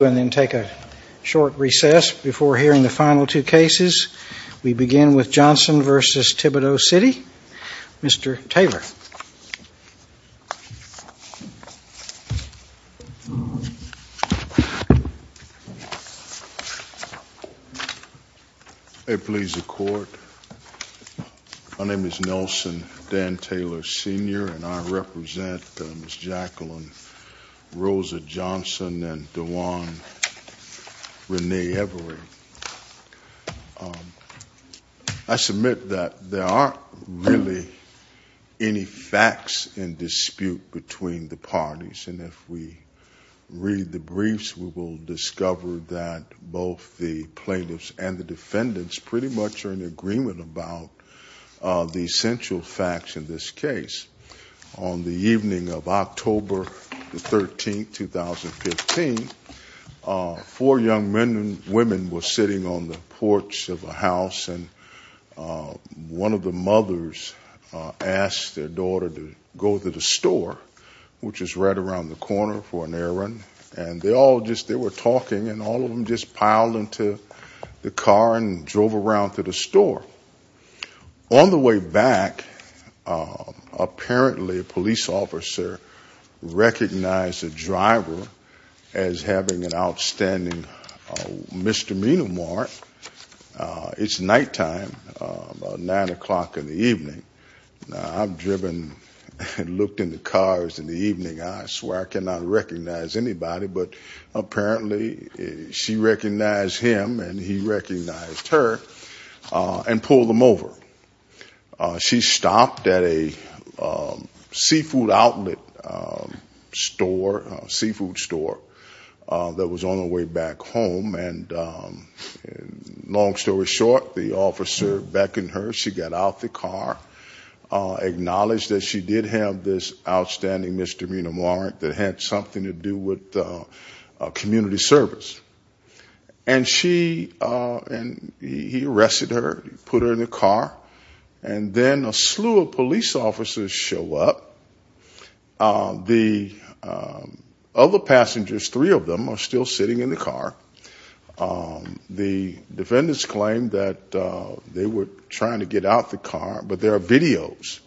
and then take a short recess before hearing the final two cases. We begin with Johnson v. Thibodaux City. Mr. Taylor. May it please the Court, my name is Nelson Dan Taylor Sr. and I represent Ms. Jacqueline Rosa Johnson and DeJuan Rene Everett. I submit that there aren't really any facts in dispute between the parties, and if we read the briefs, we will discover that both the plaintiffs and the defendants pretty much are in agreement about the essential facts in this case. On the evening of October the 13th, 2015, four young men and women were sitting on the porch of a house and one of the mothers asked their daughter to go to the store, which is right around the corner for an errand, and they were talking and all of them just piled into the car and drove around to the store. On the way back, apparently a police officer recognized the driver as having an outstanding misdemeanor warrant. It's nighttime, about 9 o'clock in the evening. I've driven and looked in the cars in the evening. I swear I cannot recognize anybody, but apparently she recognized him and he recognized her. And pulled him over. She stopped at a seafood outlet store, a seafood store, that was on the way back home. And long story short, the officer beckoned her, she got out of the car, acknowledged that she did have this outstanding misdemeanor warrant that had something to do with community service. And she, he arrested her, put her in the car. And then a slew of police officers show up. The other passengers, three of them, are still sitting in the car. The defendants claim that they were trying to get out the car, but there are videos.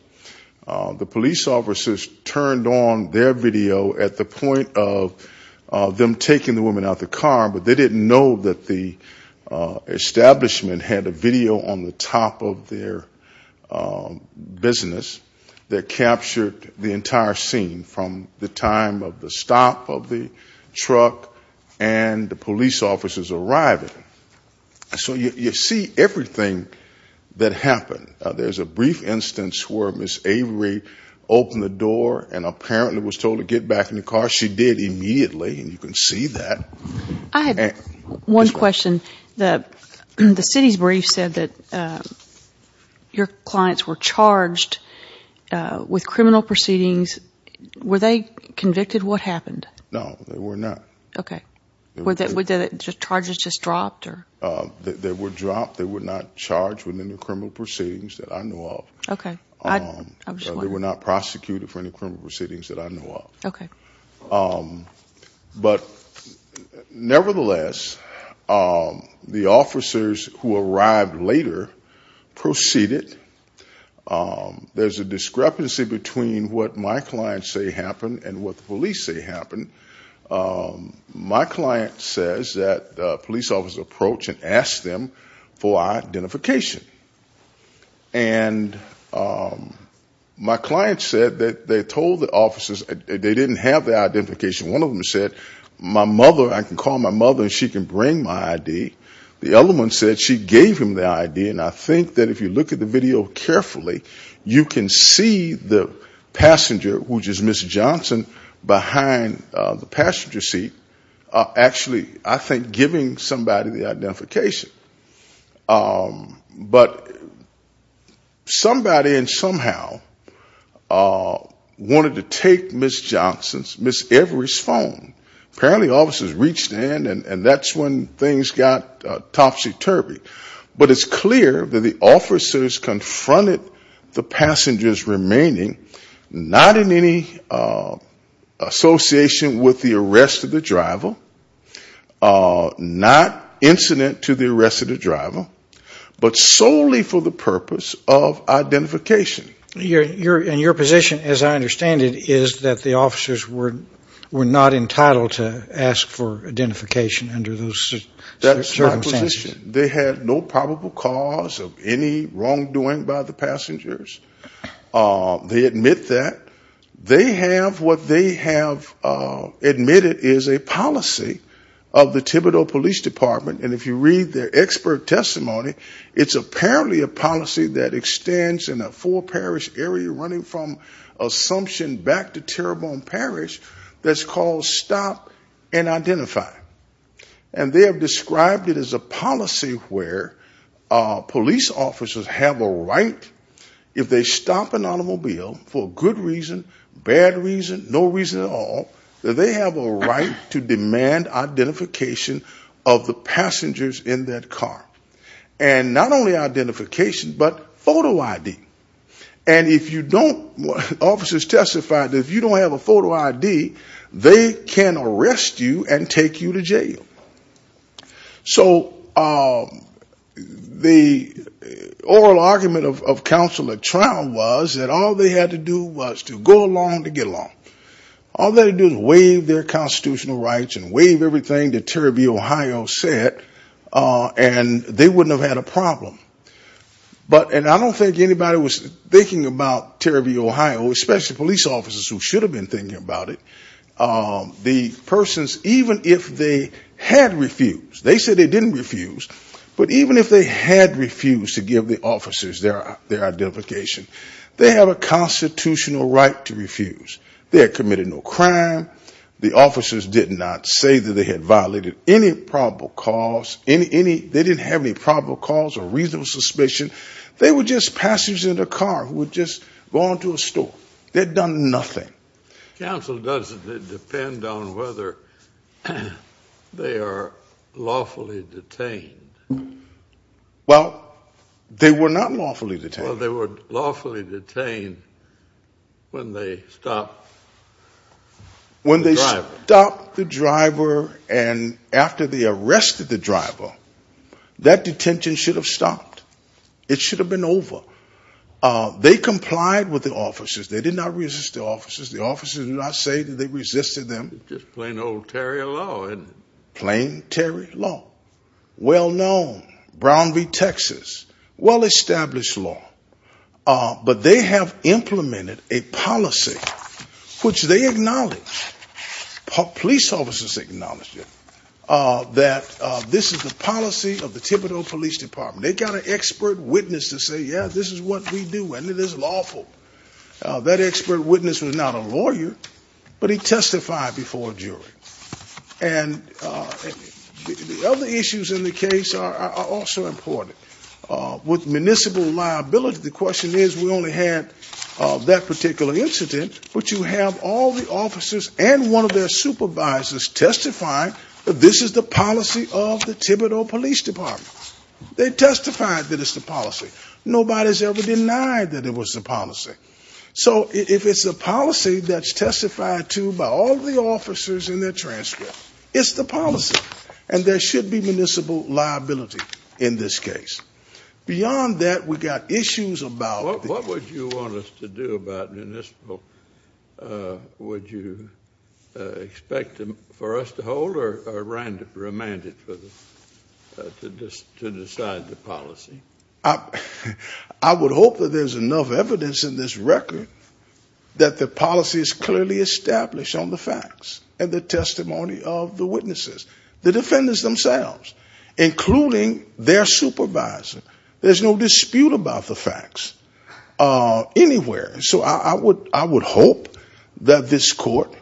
The police officers turned on their video at the point of them taking the woman out of the car, but they didn't know that the establishment had a video on the top of their business that captured the entire scene from the time of the stop of the truck and the police officers arriving. So you see everything that happened. There's a brief instance where Ms. Avery opened the door and apparently was told to get back in the car. She did immediately, and you can see that. I have one question. The city's brief said that your clients were charged with criminal proceedings. Were they convicted? What happened? No, they were not. Okay. Were the charges just dropped? They were dropped. They were not charged with any criminal proceedings that I know of. They were not prosecuted for any criminal proceedings that I know of. Okay. But nevertheless, the officers who arrived later proceeded. There's a discrepancy between what my clients say happened and what the police say happened. My client says that police officers approached and asked them for identification. And my client said that they told the officers they didn't have their identification. One of them said, my mother, I can call my mother and she can bring my ID. The other one said she gave him the ID, and I think that if you look at the video carefully, you can see the passenger, which is Ms. Johnson, behind the passenger seat, actually, I think, giving somebody the identification. But somebody and somehow wanted to take Ms. Johnson's, Ms. Avery's phone. Apparently officers reached in and that's when things got topsy-turvy. But it's clear that the officers confronted the passengers remaining, not in any association with the arrest of the driver, not incident to the arrest of the driver, but solely for the purpose of identification. And your position, as I understand it, is that the officers were not entitled to ask for identification under those circumstances. They had no probable cause of any wrongdoing by the passengers. They admit that. They have what they have admitted is a policy of the Thibodeau Police Department, and if you read their expert testimony, it's apparently a policy that extends in a four parish area, running from Assumption back to Terrebonne Parish, that's called Stop and Identify. And they have described it as a policy where police officers have a right, if they stop an automobile for good reason, bad reason, no reason at all, that they have a right to demand identification of the passengers in that car. And not only identification, but photo ID. And if you don't, officers testified that if you don't have a photo ID, they can arrest you and take you to jail. So the oral argument of Counselor Trout was that all they had to do was to go along to get along. All they had to do was waive their constitutional rights and waive everything that Terry B. Ohio said, and they wouldn't have had a problem. But, and I don't think anybody was thinking about Terry B. Ohio, especially police officers who should have been thinking about it. The persons, even if they had refused, they said they didn't refuse, but even if they had refused to give the officers their identification, they have a constitutional right to refuse. They had committed no crime, the officers did not say that they had violated any probable cause, they didn't have any probable cause or reasonable suspicion. They were just passengers in a car who had just gone to a store. They had done nothing. Counsel doesn't depend on whether they are lawfully detained. Well, they were not lawfully detained. Well, they were lawfully detained when they stopped the driver. And after they arrested the driver, that detention should have stopped. It should have been over. They complied with the officers. They did not resist the officers. The officers did not say that they resisted them. Just plain old Terry law. Plain Terry law. Well known. Brown v. Texas. Well established law. But they have implemented a policy which they acknowledge, police officers acknowledge it, that this is the policy of the Thibodeau Police Department. They got an expert witness to say, yeah, this is what we do, and it is lawful. That expert witness was not a lawyer, but he testified before a jury. And the other issues in the case are also important. With municipal liability, the question is, we only had that particular incident, but you have all the officers and one of their supervisors testifying that this is the policy of the Thibodeau Police Department. They testified that it's the policy. Nobody has ever denied that it was the policy. So if it's a policy that's testified to by all the officers in their transcript, it's the policy. And there should be municipal liability in this case. Beyond that, we've got issues about. What would you want us to do about municipal? Would you expect for us to hold or remand it to decide the policy? I would hope that there's enough evidence in this record that the policy is clearly established on the facts and the testimony of the witnesses, the defendants themselves, including their supervisor. There's no dispute about the facts anywhere. So I would hope that this court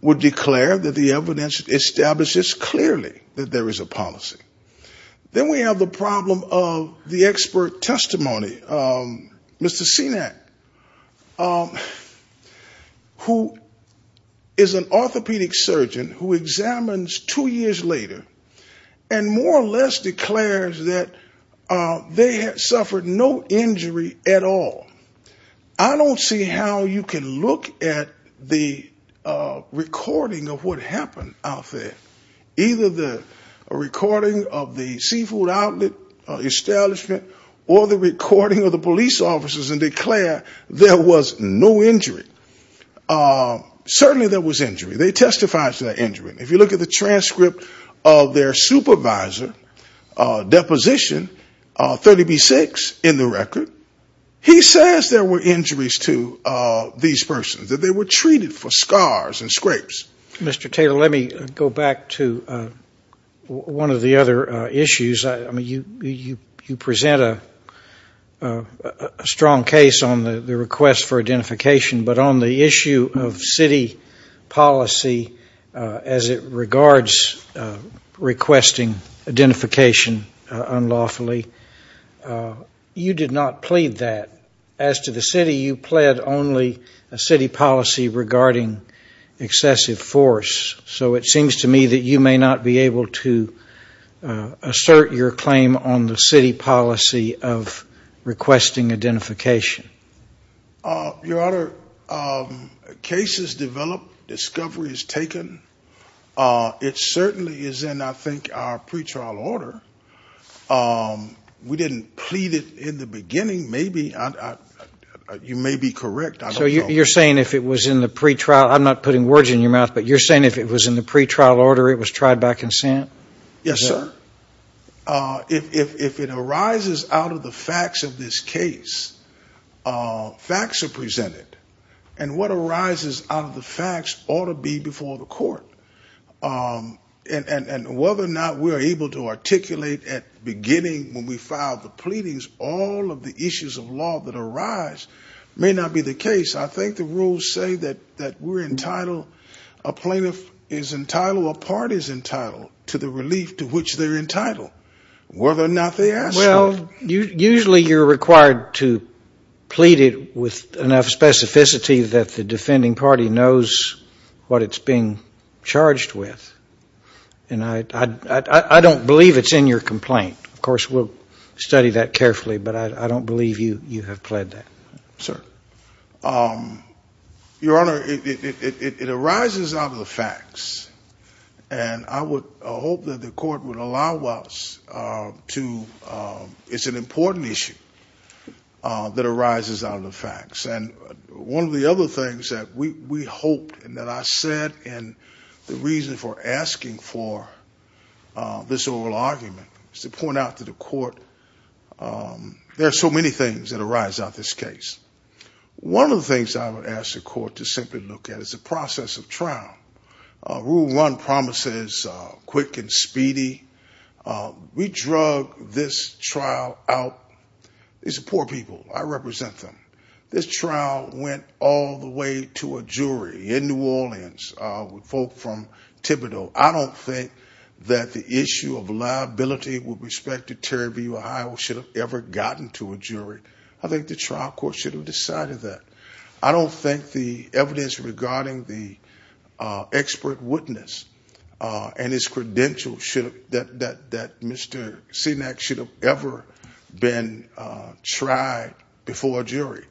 would declare that the evidence establishes clearly that there is a policy. Then we have the problem of the expert testimony. Mr. Sinek, who is an orthopedic surgeon who examines two years later and more or less declares that they had suffered no injury at all. I don't see how you can look at the recording of what happened out there. Either the recording of the seafood outlet establishment or the recording of the police officers and declare there was no injury. Certainly there was injury. They testified to that injury. If you look at the transcript of their supervisor deposition, 30B-6 in the record, he says there were injuries to these persons, that they were treated for scars and scrapes. Mr. Taylor, let me go back to one of the other issues. You present a strong case on the request for identification, but on the issue of city policy as it regards requesting identification unlawfully. You did not plead that. As to the city, you pled only a city policy regarding excessive force. So it seems to me that you may not be able to assert your claim on the city policy of requesting identification. Your Honor, cases develop, discovery is taken. It certainly is in, I think, our pretrial order. We didn't plead it in the beginning. You may be correct. So you're saying if it was in the pretrial, I'm not putting words in your mouth, but you're saying if it was in the pretrial order, it was tried by consent? Yes, sir. If it arises out of the facts of this case, facts are presented. And what arises out of the facts ought to be before the court. And whether or not we are able to articulate at beginning when we filed the pleadings, all of the issues of law that are in the case, I think the rules say that we're entitled, a plaintiff is entitled, a party is entitled to the relief to which they're entitled. Whether or not they ask for it. Well, usually you're required to plead it with enough specificity that the defending party knows what it's being charged with. And I don't believe it's in your complaint. Of course, we'll study that carefully, but I don't believe you have plead that. Sir. Your Honor, it arises out of the facts. And I would hope that the court would allow us to it's an important issue that arises out of the facts. And one of the other things that we hoped and that I said, and the reason for asking for this oral argument is to point out to the court there are so many things that arise out of this case. One of the things I would ask the court to simply look at is the process of trial. Rule one promises quick and speedy. We drug this trial out. These are poor people. I represent them. This trial went all the way to a jury in New Orleans with folk from Thibodeau. I don't think that the issue of liability with respect to Terry B. Ohio should have ever gotten to a jury. I think the trial court should have decided that. I don't think the evidence regarding the expert witness and his credentials that Mr. Sinek should have ever been tried before a jury.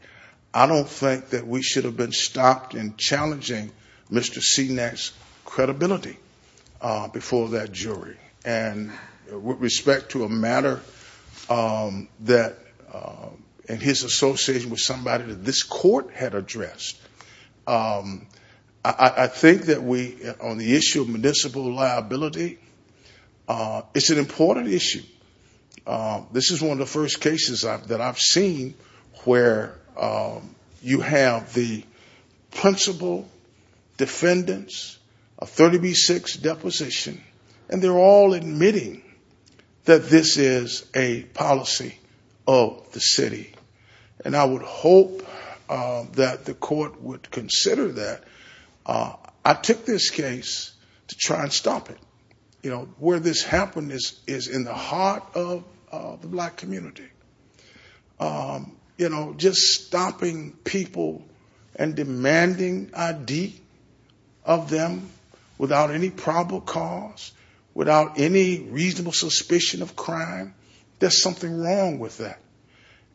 I don't think that we should have been stopped in challenging Mr. Sinek's credibility before that jury. And with respect to a matter that in his association with somebody that this court had addressed, I think that we on the issue of municipal liability, it's an important issue. This is one of the first cases that I've seen where you have the principal defendants of 30B6 deposition and they're all admitting that this is a policy of the city. And I would hope that the court would consider that. I took this case to try and stop it. Where this happened is in the heart of the black community. Just stopping people and demanding ID of them without any probable cause, without any reasonable suspicion of crime, there's something wrong with that.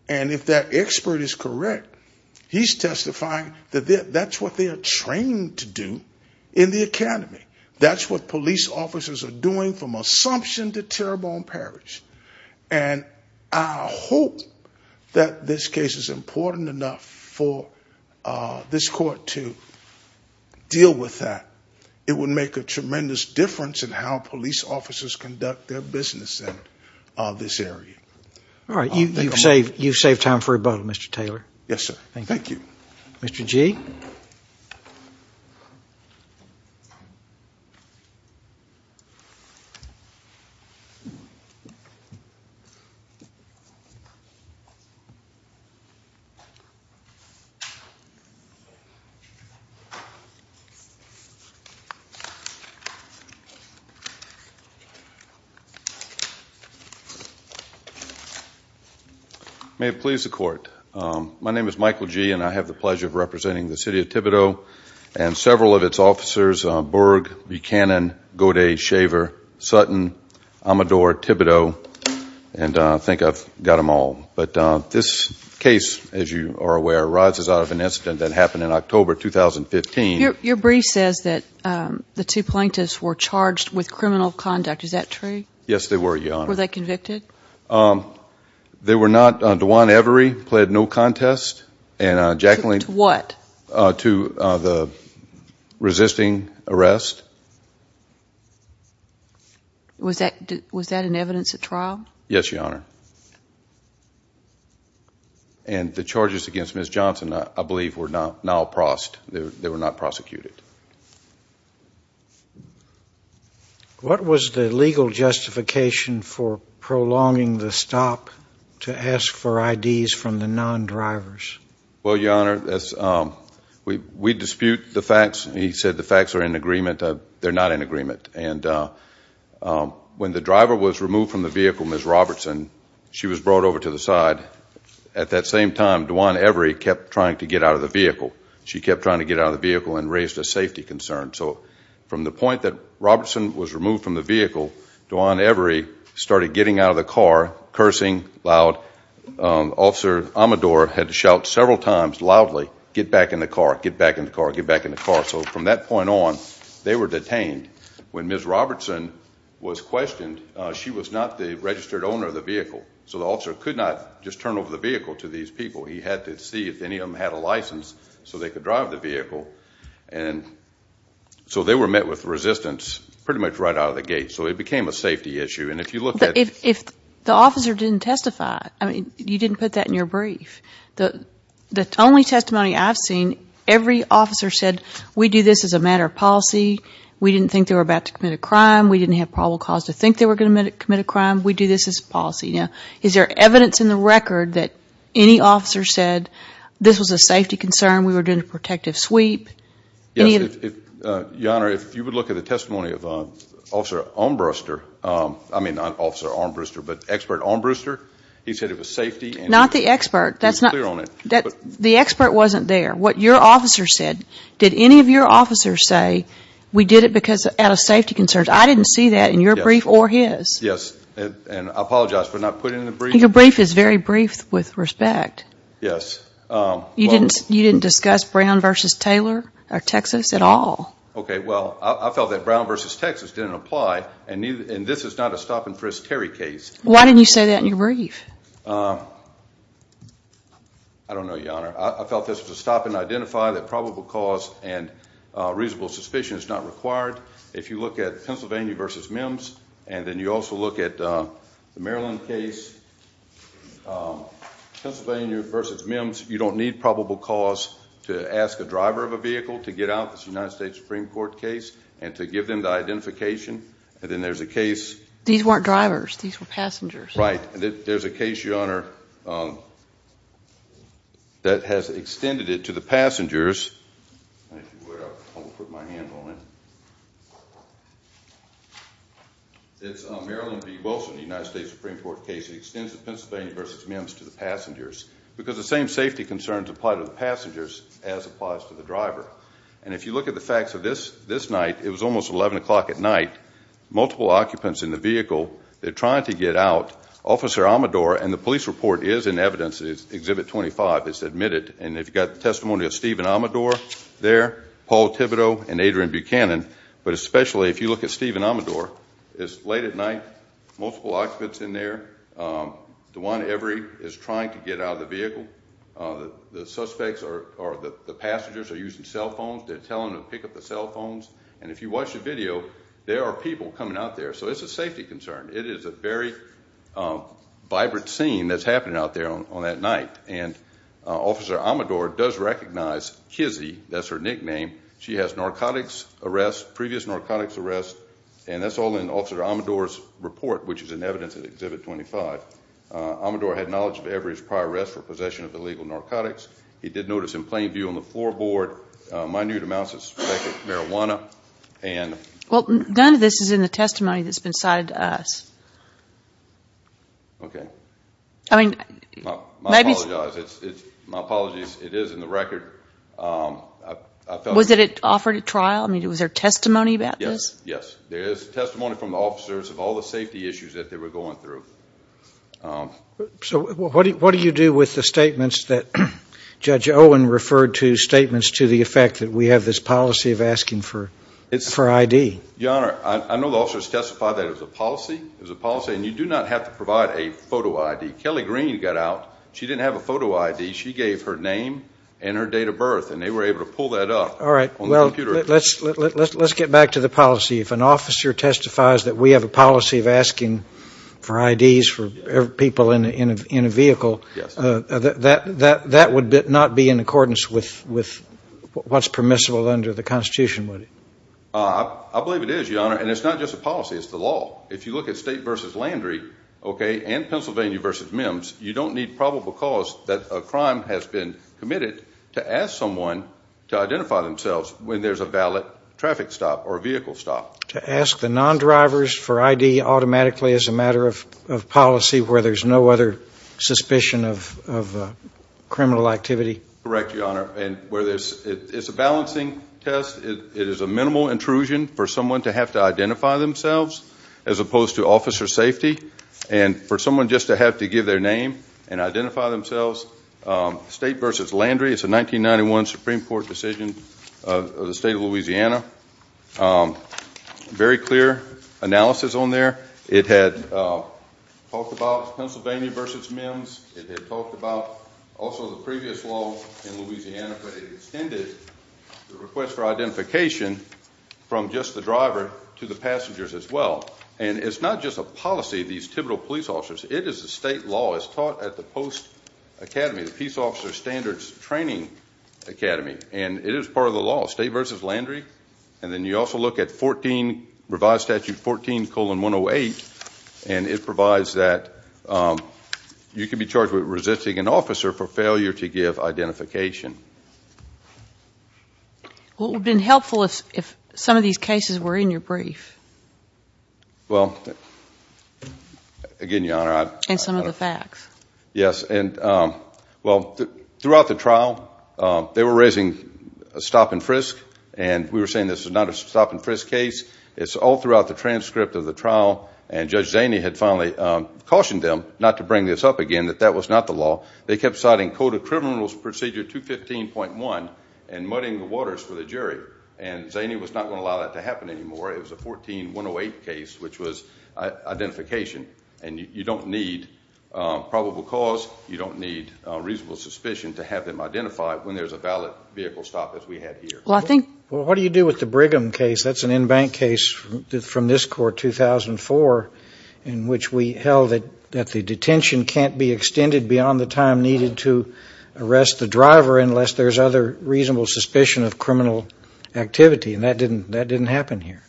And if that expert is correct, he's testifying that that's what they're trained to do in the academy. That's what police officers are doing from Assumption to Terrebonne Parish. And I hope that this case is important enough for this court to deal with that. It would make a tremendous difference in how police officers conduct their business in this area. You've saved time for rebuttal, Mr. Taylor. May it please the court. My name is Michael Gee and I have the pleasure of representing the city of Thibodeau and several of its officers, Berg, Buchanan, Godet, Shaver, Sutton, Amador, Thibodeau, and I think I've got them all. But this case, as you are aware, rises out of an incident that happened in October 2015. Your brief says that the two plaintiffs were charged with criminal conduct. Is that true? Yes, they were, Your Honor. Were they convicted? They were not. Dwan Every pled no contest. To what? To the resisting arrest. Yes, Your Honor. And the charges against Ms. Johnson, I believe, were not prosecuted. What was the legal justification for prolonging the stop to ask for IDs from the non-drivers? Well, Your Honor, we dispute the facts. He said the facts are in agreement. They're not in agreement. And when the driver was brought over to the side, at that same time, Dwan Every kept trying to get out of the vehicle. She kept trying to get out of the vehicle and raised a safety concern. So from the point that Robertson was removed from the vehicle, Dwan Every started getting out of the car, cursing loud. Officer Amador had to shout several times, loudly, get back in the car, get back in the car, get back in the car. So from that point on, they were detained. When Ms. Robertson was questioned, she was not the registered owner of the vehicle. So the officer could not just turn over the vehicle to these people. He had to see if any of them had a license so they could drive the vehicle. So they were met with resistance pretty much right out of the gate. So it became a safety issue. If the officer didn't testify, you didn't put that in your brief. The only testimony I've seen, every officer said, we do this as a matter of policy. We didn't think they were about to commit a crime. We didn't have probable cause to think they were going to commit a crime. We do this as a policy. Now, is there evidence in the record that any officer said this was a safety concern, we were doing a protective sweep? Your Honor, if you would look at the testimony of Officer Armbruster, I mean not Officer Armbruster, but Expert Armbruster, he said it was safety. Not the expert. The expert wasn't there. What your officer said, did any of your officers say we did it out of safety concerns? I didn't see that in your brief or his. Yes, and I apologize for not putting it in the brief. Your brief is very brief with respect. Yes. You didn't discuss Brown v. Taylor or Texas at all. Okay, well, I felt that Brown v. Texas didn't apply and this is not a stop and frisk Terry case. Why didn't you say that in your brief? I don't know, Your Honor. I felt this was a stop and identify that probable cause and reasonable suspicion is not required. If you look at Pennsylvania v. Mims, and then you also look at the Maryland case, Pennsylvania v. Mims, you don't need probable cause to ask a driver of a vehicle to get out of this United States Supreme Court case and to give them the identification. And then there's a case These weren't drivers. These were passengers. Right. There's a case, Your Honor, that has extended it to the passengers. It's Maryland v. Wilson, the United States Supreme Court case. It extends to Pennsylvania v. Mims to the passengers because the same safety concerns apply to the passengers as applies to the driver. And if you look at the facts of this night, it was almost 11 o'clock at night. Multiple occupants in the vehicle. They're trying to get out. Officer Amador and the police report is in evidence. Exhibit 25 is admitted. And you've got testimony of Stephen Amador there, Paul Thibodeau, and Adrian Buchanan. But especially if you look at Stephen Amador, it's late at night. Multiple occupants in there. DeJuan Every is trying to get out of the vehicle. The suspects or the passengers are using cell phones. They're telling them to pick up the cell phones. And if you watch the video, there are people coming out there. So it's a safety concern. It is a very vibrant scene that's happening out there on that night. And Officer Amador does recognize Kizzy. That's her nickname. She has narcotics arrests, previous narcotics arrests. And that's all in Officer Amador's report, which is in evidence at Exhibit 25. Amador had knowledge of Every's prior arrests for possession of illegal narcotics. He did notice in plain view on the floorboard minute amounts of suspected marijuana. None of this is in the testimony that's been cited to us. Okay. I apologize. My apologies. It is in the record. Was it offered at trial? I mean, was there testimony about this? Yes. There is testimony from the officers of all the safety issues that they were going through. So what do you do with the statements that Judge Owen referred to, statements to the effect that we have this policy of asking for ID? Your Honor, I know the officers testified that it was a policy, and you do not have to provide a photo ID. Kelly Green got out. She didn't have a photo ID. She gave her name and her date of birth, and they were able to pull that up on the computer. Let's get back to the policy. If an officer testifies that we have a policy of asking for IDs for people in a vehicle, that would not be in accordance with what's permissible under the Constitution, would it? I believe it is, Your Honor, and it's not just a policy. It's the law. If you look at State v. Landry, okay, and Pennsylvania v. MIMS, you don't need probable cause that a crime has been committed to ask someone to identify themselves when there's a valid traffic stop or vehicle stop. To ask the non-drivers for ID automatically as a matter of policy where there's no other suspicion of criminal activity? Correct, Your Honor, and where there's it's a balancing test. It is a minimal intrusion for someone to have to identify themselves as opposed to officer safety and for someone just to have to give their name and identify themselves. State v. Landry, it's a 1991 Supreme Court decision of the State of Louisiana. Very clear analysis on there. It had talked about Pennsylvania v. MIMS. It had talked about also the previous law in Louisiana, but it extended the request for identification from just the driver to the passengers as well. And it's not just a policy, these typical police officers. It is a state law. It's taught at the post academy, the Peace Officer Standards Training Academy, and it is part of the law. State v. Landry, and then you also look at 14, Revised Statute 14, colon 108, and it provides that you can be charged with resisting an officer for failure to give identification. Well, it would have been helpful if some of these cases were in your brief. Well, again, Your Honor. And some of the facts. Yes, and well, throughout the trial, they were raising a stop and frisk and we were saying this was not a stop and frisk case. It's all throughout the transcript of the trial, and Judge Zaney had finally cautioned them not to They kept citing Code of Criminals Procedure 215.1 and muddying the waters for the jury. And Zaney was not going to allow that to happen anymore. It was a 14, 108 case, which was identification. And you don't need probable cause. You don't need reasonable suspicion to have them identified when there's a valid vehicle stop as we had here. Well, what do you do with the Brigham case? That's an in-bank case from this court, 2004, in which we held that the detention can't be extended beyond the time needed to arrest the driver unless there's other reasonable suspicion of criminal activity. And that didn't happen here.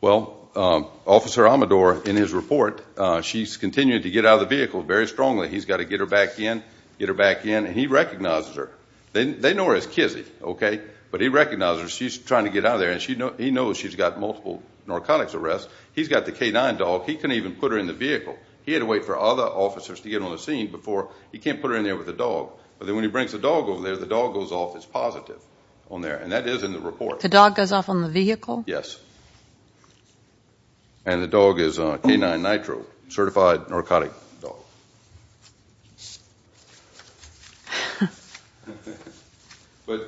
Well, Officer Amador, in his report, she's continuing to get out of the vehicle very strongly. He's got to get her back in, get her back in, and he recognizes her. They know her as Kizzy, okay? But he recognizes her. She's trying to get out of there, and he knows she's got multiple narcotics arrests. He's got the canine dog. He couldn't even put her in the vehicle. He had to wait for other officers to get on the scene before he can't put her in there with the dog. But then when he brings the dog over there, the dog goes off as positive on there, and that is in the report. The dog goes off on the vehicle? Yes. And the dog is a canine nitro, certified narcotic dog. But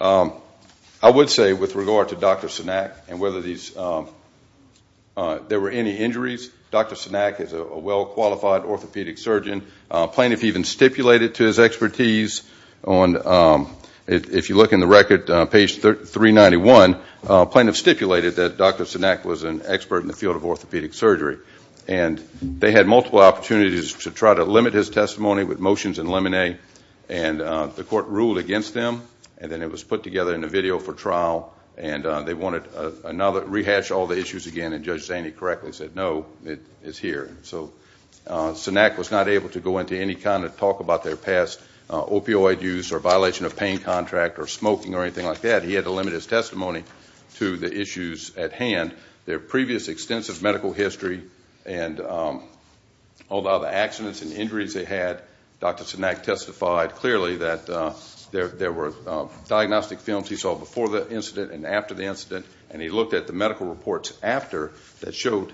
I would say, with regard to Dr. Sinak and whether these there were any injuries, Dr. Sinak is a well-qualified orthopedic surgeon. A plaintiff even stipulated to his expertise on, if you look in the record, page 391, a plaintiff stipulated that Dr. Sinak was an expert in the field of orthopedic surgery. And they had multiple opportunities to try to limit his testimony with motions and lemonade, and the court ruled against them, and then it was put together in a video for trial, and they wanted to rehash all the issues again, and Judge Zaney correctly said, no, it's here. So Sinak was not able to go into any kind of talk about their past opioid use or violation of pain contract or smoking or anything like that. He had to limit his testimony to the issues at hand. Their previous extensive medical history and all the other accidents and injuries they had, Dr. Sinak testified clearly that there were diagnostic films he saw before the incident and after the incident, and he looked at the medical reports after that showed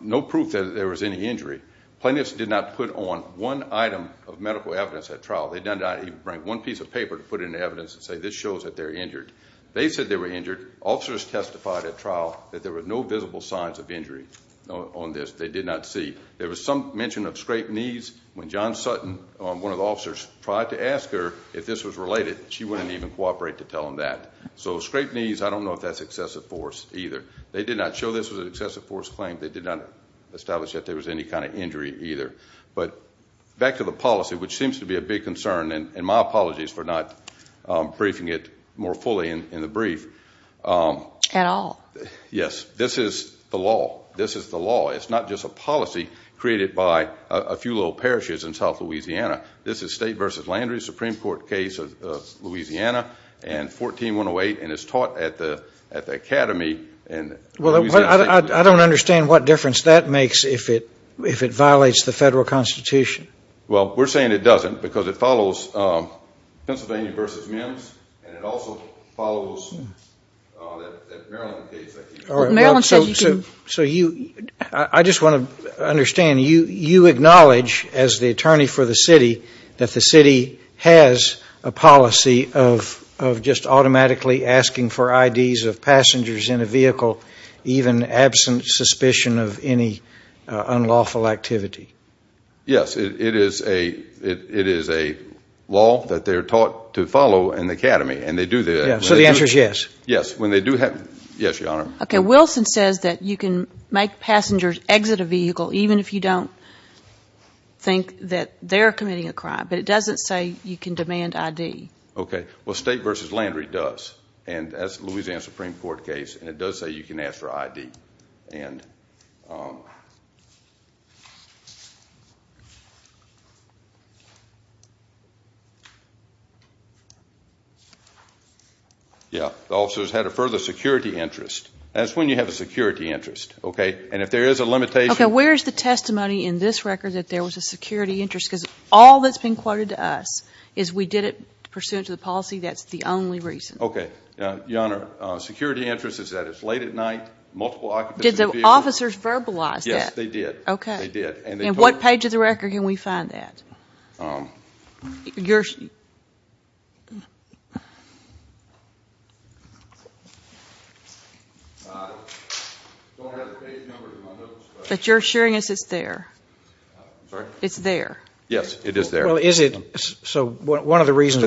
no proof that there was any injury. Plaintiffs did not put on one item of medical evidence at trial. They did not even bring one piece of paper to put into evidence and say this shows that they're injured. They said they were injured. Officers testified at trial that there were no visible signs of injury on this. They did not see. There was some mention of scraped knees. When John Sutton, one of the officers, tried to isolate it, she wouldn't even cooperate to tell him that. So scraped knees, I don't know if that's excessive force either. They did not show this was an excessive force claim. They did not establish that there was any kind of injury either. But back to the policy, which seems to be a big concern, and my apologies for not briefing it more fully in the brief. At all. Yes. This is the law. This is the law. It's not just a policy created by a few little parishes in south Louisiana. This is State v. Landry Supreme Court case of Louisiana and 14-108 and it's taught at the academy. I don't understand what difference that makes if it violates the Federal Constitution. Well, we're saying it doesn't because it follows Pennsylvania v. Mims and it also follows that Maryland case. I just want to understand, you acknowledge as the attorney for the city that the city has a policy of just automatically asking for IDs of passengers in a vehicle even absent suspicion of any unlawful activity. Yes. It is a law that they're taught to follow in the academy and they do that. So the answer is yes. Yes. Wilson says that you can make passengers exit a vehicle even if you don't think that they're committing a crime. But it doesn't say you can demand ID. Okay. Well, State v. Landry does and as Louisiana Supreme Court case and it does say you can ask for ID. The officers had a further security interest. That's when you have a security interest. Okay. And if there is a limitation. Okay. Where is the testimony in this record that there was a security interest? Because all that's been quoted to us is we did it pursuant to the policy. That's the only reason. Okay. Your Honor, security interest is that it's late at night, multiple occupants in a vehicle. Did the officers verbalize that? Yes, they did. Okay. And what page of the record can we find that? Your... I don't have the page number. But you're assuring us it's there. I'm sorry? It's there. Yes, it is there. So one of the reasons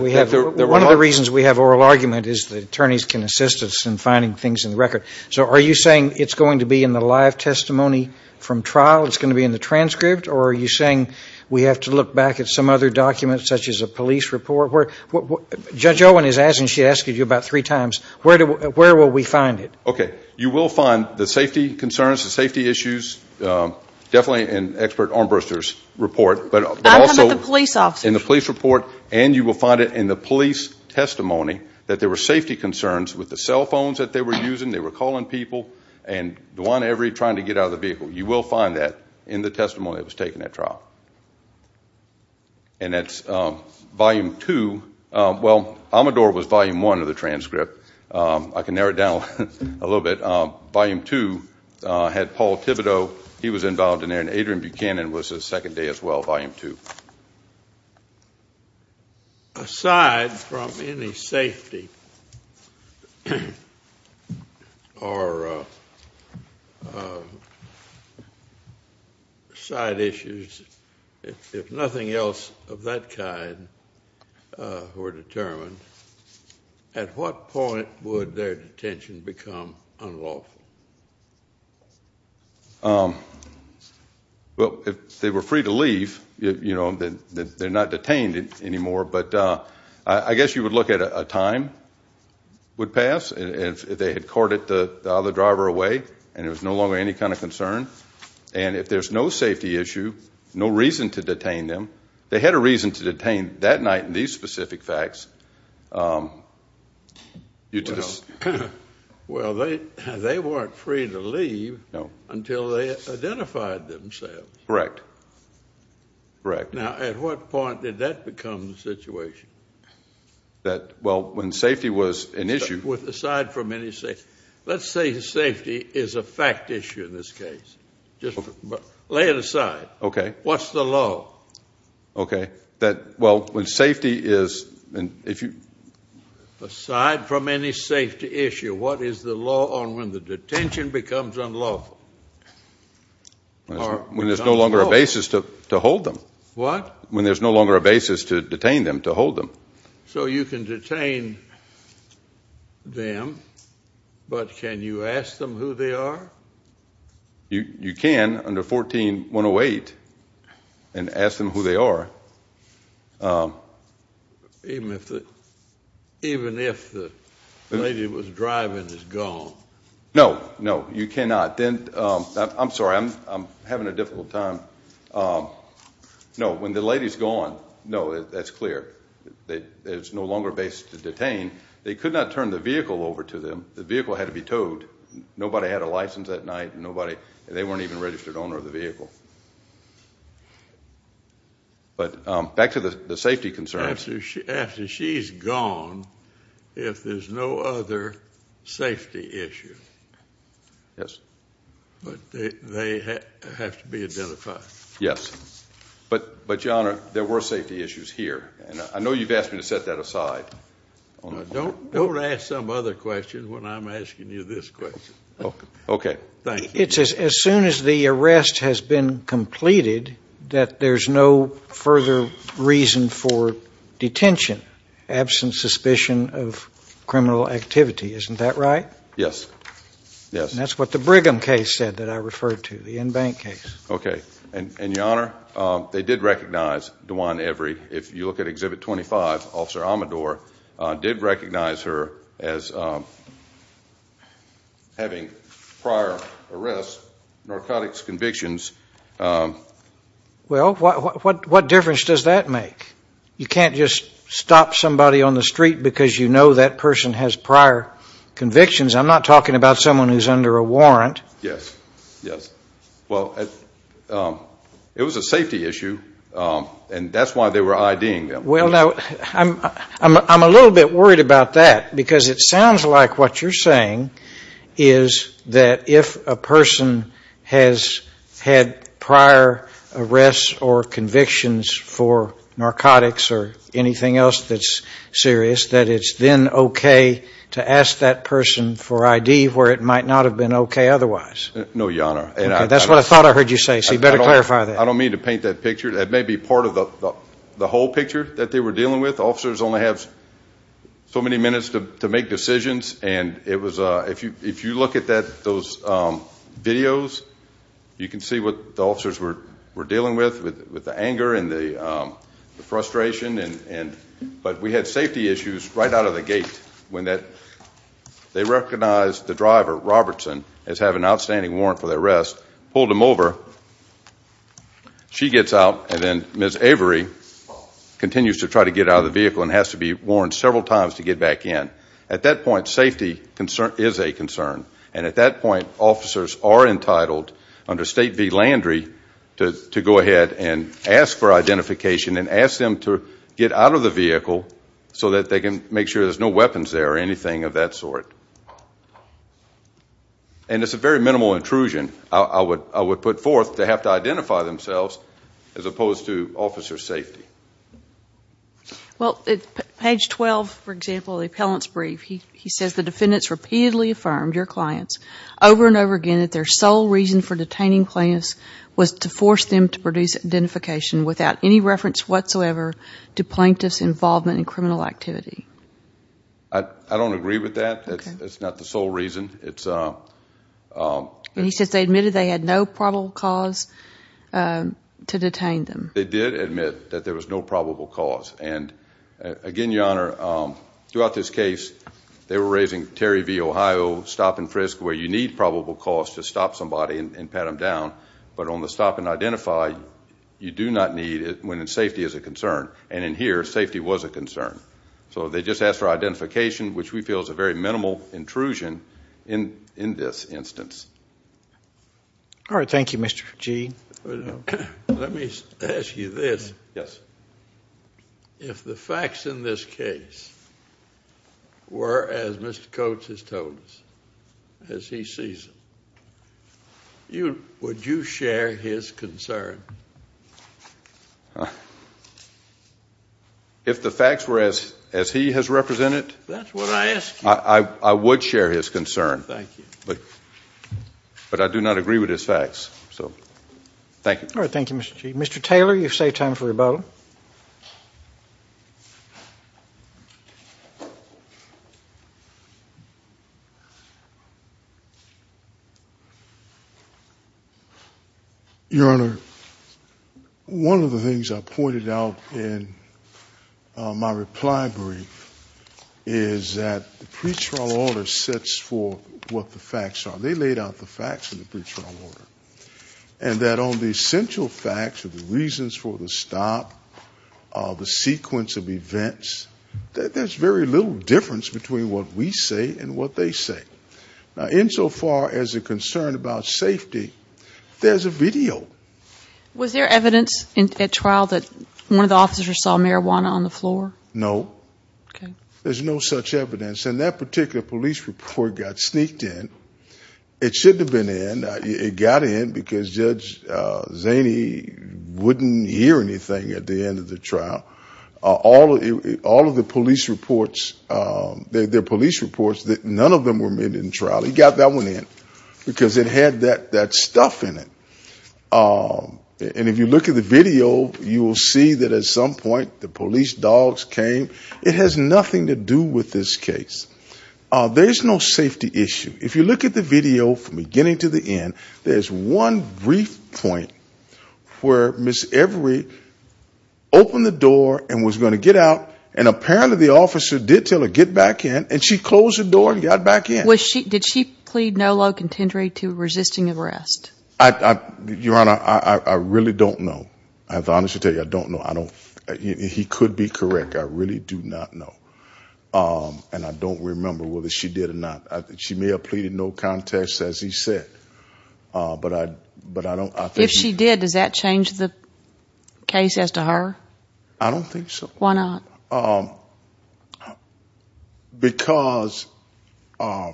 we have oral argument is that attorneys can assist us in finding things in the record. So are you saying it's going to be in the live testimony from trial, it's going to be in the transcript, or are you saying we have to look back at some other documents, such as a police report? Judge Owen is asking, she's asked you about three times, where will we find it? Okay. You will find the safety concerns, the safety issues, definitely in expert Armbruster's report, but also in the police report, and you will find it in the police testimony that there were safety concerns with the cell phones that they were using, they were calling people, and Duane Every trying to get out of the vehicle. You will find that in the testimony that was taken at trial. And that's volume two. Well, Amador was volume one of the transcript. I can narrow it down a little bit. Volume two had Paul Thibodeau, he was involved in there, and Adrian Buchanan was a second day as well, volume two. Aside from any safety or side issues, if nothing else of that kind were determined, at what point would their detention become unlawful? Well, if they were free to leave, you know, they're not detained anymore, but I guess you would look at a time would pass, and if they had courted the other driver away, and it was no longer any kind of concern, and if there's no safety issue, no reason to detain them, they had a reason to detain that night in these specific facts. Well, they weren't free to leave until they identified themselves. Correct. Now, at what point did that become the situation? That, well, when safety was an issue... Aside from any safety. Let's say safety is a fact issue in this case. Just lay it aside. Okay. What's the law? Okay. That, well, when safety is... Aside from any safety issue, what is the law on when the detention becomes unlawful? When there's no longer a basis to hold them. What? When there's no longer a basis to detain them, to hold them. So you can detain them, but can you ask them who they are? You can under 14-108 and ask them who they are. Even if the lady was driving is gone. No, no, you cannot. I'm sorry, I'm having a difficult time. No, when the lady's gone, no, that's clear. There's no longer a basis to detain. They could not turn the vehicle over to them. The vehicle had to be towed. Nobody had a license that night. They weren't even a registered owner of the vehicle. But back to the safety concerns. After she's gone, if there's no other safety issue, but they have to be identified. Yes, but your honor, there were safety issues here, and I know you've asked me to set that aside. Don't ask some other question when I'm asking you this question. As soon as the arrest has been completed, that there's no further reason for detention, absent suspicion of criminal activity. Isn't that right? Yes. And that's what the Brigham case said that I referred to, the in-bank case. Okay, and your honor, they did recognize, DeJuan Avery, if you look at Exhibit 25, Officer Amador, did recognize her as having prior arrest, narcotics convictions. Well, what difference does that make? You can't just stop somebody on the street because you know that person has prior convictions. I'm not talking about someone who's under a warrant. Well, it was a safety issue, and that's why they were IDing them. I'm a little bit worried about that, because it sounds like what you're saying is that if a person has had prior arrests or convictions for serious, that it's then okay to ask that person for ID where it might not have been okay otherwise. No, your honor. That's what I thought I heard you say, so you better clarify that. I don't mean to paint that picture. It may be part of the whole picture that they were dealing with. Officers only have so many minutes to make decisions. If you look at those videos, you can see what the officers were dealing with, with the anger and the They had safety issues right out of the gate. They recognized the driver, Robertson, as having an outstanding warrant for the arrest, pulled him over, she gets out, and then Ms. Avery continues to try to get out of the vehicle and has to be warned several times to get back in. At that point, safety is a concern. And at that point, officers are entitled, under State v. Landry, to go ahead and ask for identification and ask them to get out of the vehicle so that they can make sure there's no weapons there or anything of that sort. And it's a very minimal intrusion, I would put forth, to have to identify themselves as opposed to officer safety. Page 12, for example, the appellant's brief, he says the defendants repeatedly affirmed your clients over and over again that their sole reason for detaining clients was to force them to produce identification without any reference whatsoever to plaintiff's involvement in criminal activity. I don't agree with that. That's not the sole reason. And he says they admitted they had no probable cause to detain them. They did admit that there was no probable cause. And again, Your Honor, throughout this case, they were raising Terry v. Ohio, stop and frisk, where you need probable cause to stop somebody and pat them down, but on the stop and identify, you do not need it when safety is a concern. And in here, safety was a concern. So they just asked for identification, which we feel is a very minimal intrusion in this instance. All right. Thank you, Mr. G. Let me ask you this. Yes. If the facts in this case were as Mr. Coates has told us, as he sees them, would you share his concern? If the facts were as he has represented, I would share his concern. Thank you. But I do not agree with his facts. Thank you. All right. Thank you, Mr. G. Mr. Taylor, you've saved time for rebuttal. Your Honor, one of the things I pointed out in my reply brief is that the pre-trial order sets for what the facts are. They laid out the facts in the pre-trial order. And that on the essential facts, the reasons for the stop, the sequence of events, there's very little difference between what we say and what they say. Now, insofar as a concern about safety, there's a video. Was there evidence at trial that one of the officers saw marijuana on the floor? No. Okay. There's no such evidence. And that particular police report got sneaked in. It shouldn't have been in. It got in because Judge Zaney wouldn't hear anything at the end of the trial. All of the police reports, their police reports, none of them were made in trial. He got that one in because it had that stuff in it. And if you look at the video, you will see that at some point the police dogs came. It has nothing to do with this case. There's no safety issue. If you look at the video from beginning to the end, there's one brief point where Ms. Every opened the door and was going to get out, and apparently the officer did tell her get back in, and she closed the door and got back in. Did she plead no low contender to resisting arrest? Your Honor, I really don't know. I have to honestly tell you, I don't know. He could be correct. I really do not know. And I don't remember whether she did or not. She may have pleaded no contest, as he said. If she did, does that change the case as to her? I don't think so. Why not? Because I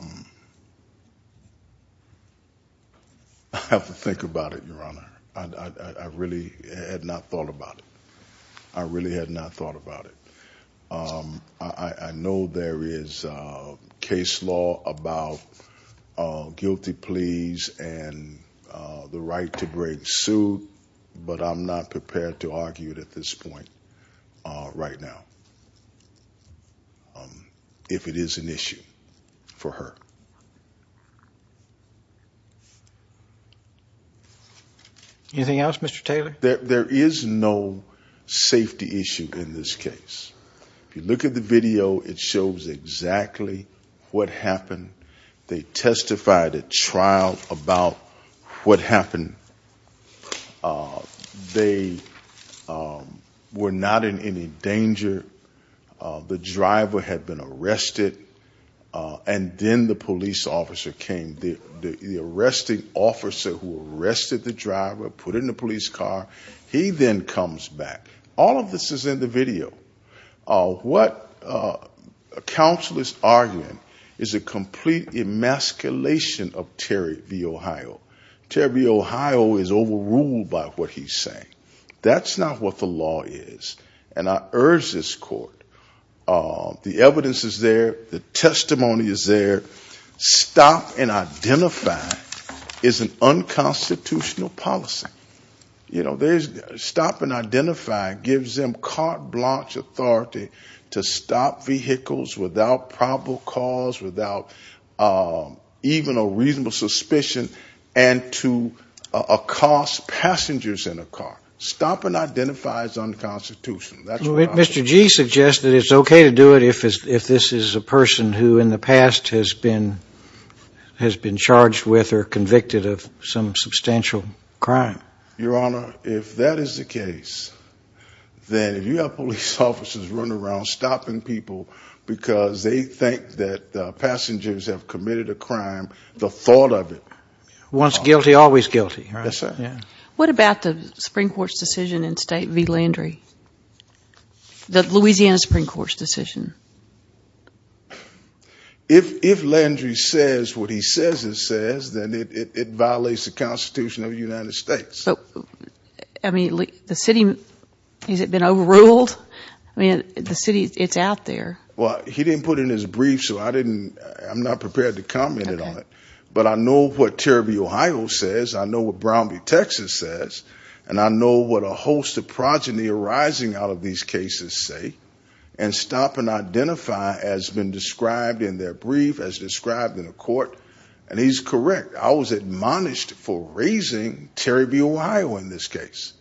have to think about it, Your Honor. I really had not thought about it. I really had not thought about it. I know there is case law about guilty pleas and the right to break suit, but I'm not prepared to argue it at this point right now if it is an issue for her. Anything else, Mr. Taylor? There is no safety issue in this case. If you look at the video, it shows exactly what happened. They testified at trial about what happened. They were not in any danger. The driver had been arrested. And then the police officer came. The arresting officer who arrested the driver, put him in a police car, he then comes back. All of this is in the video. What counsel is arguing is a complete emasculation of Terry v. Ohio. Terry v. Ohio is overruled by what he's saying. That's not what the law is. And I urge this court the evidence is there. The testimony is there. Stop and identify is an unconstitutional policy. Stop and identify gives them carte blanche authority to stop vehicles without probable cause, without even a reasonable suspicion, and to accost passengers in a car. Stop and identify is unconstitutional. Mr. G. suggested it's okay to do it if this is a person who in the past has been charged with or convicted of some substantial crime. Your Honor, if that is the case, then you have police officers running around stopping people because they think that the thought of it... What about the Supreme Court's decision in State v. Landry? The Louisiana Supreme Court's decision? If Landry says what he says it says, then it violates the Constitution of the United States. Has it been overruled? It's out there. Well, he didn't put it in his brief, so I'm not prepared to comment on it. But I know what Terry v. Ohio says. I know what Brown v. Texas says. And I know what a host of progeny arising out of these cases say. And stop and identify has been described in their brief, as described in the court. And he's correct. I was admonished for raising Terry v. Ohio in this case.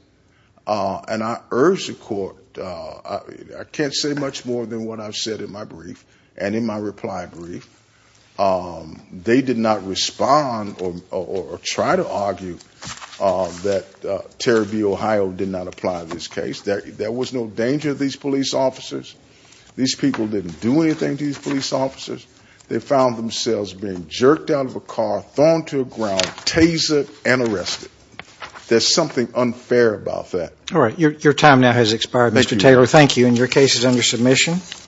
And I urge the court... I can't say much more than what I've said in my brief and in my reply brief. They did not respond or try to argue that Terry v. Ohio did not apply in this case. There was no danger to these police officers. These people didn't do anything to these police officers. They found themselves being jerked out of a car, thrown to the ground, tasered, and arrested. There's something unfair about that. All right. Your time now has expired, Mr. Taylor. Thank you. And your case is under submission.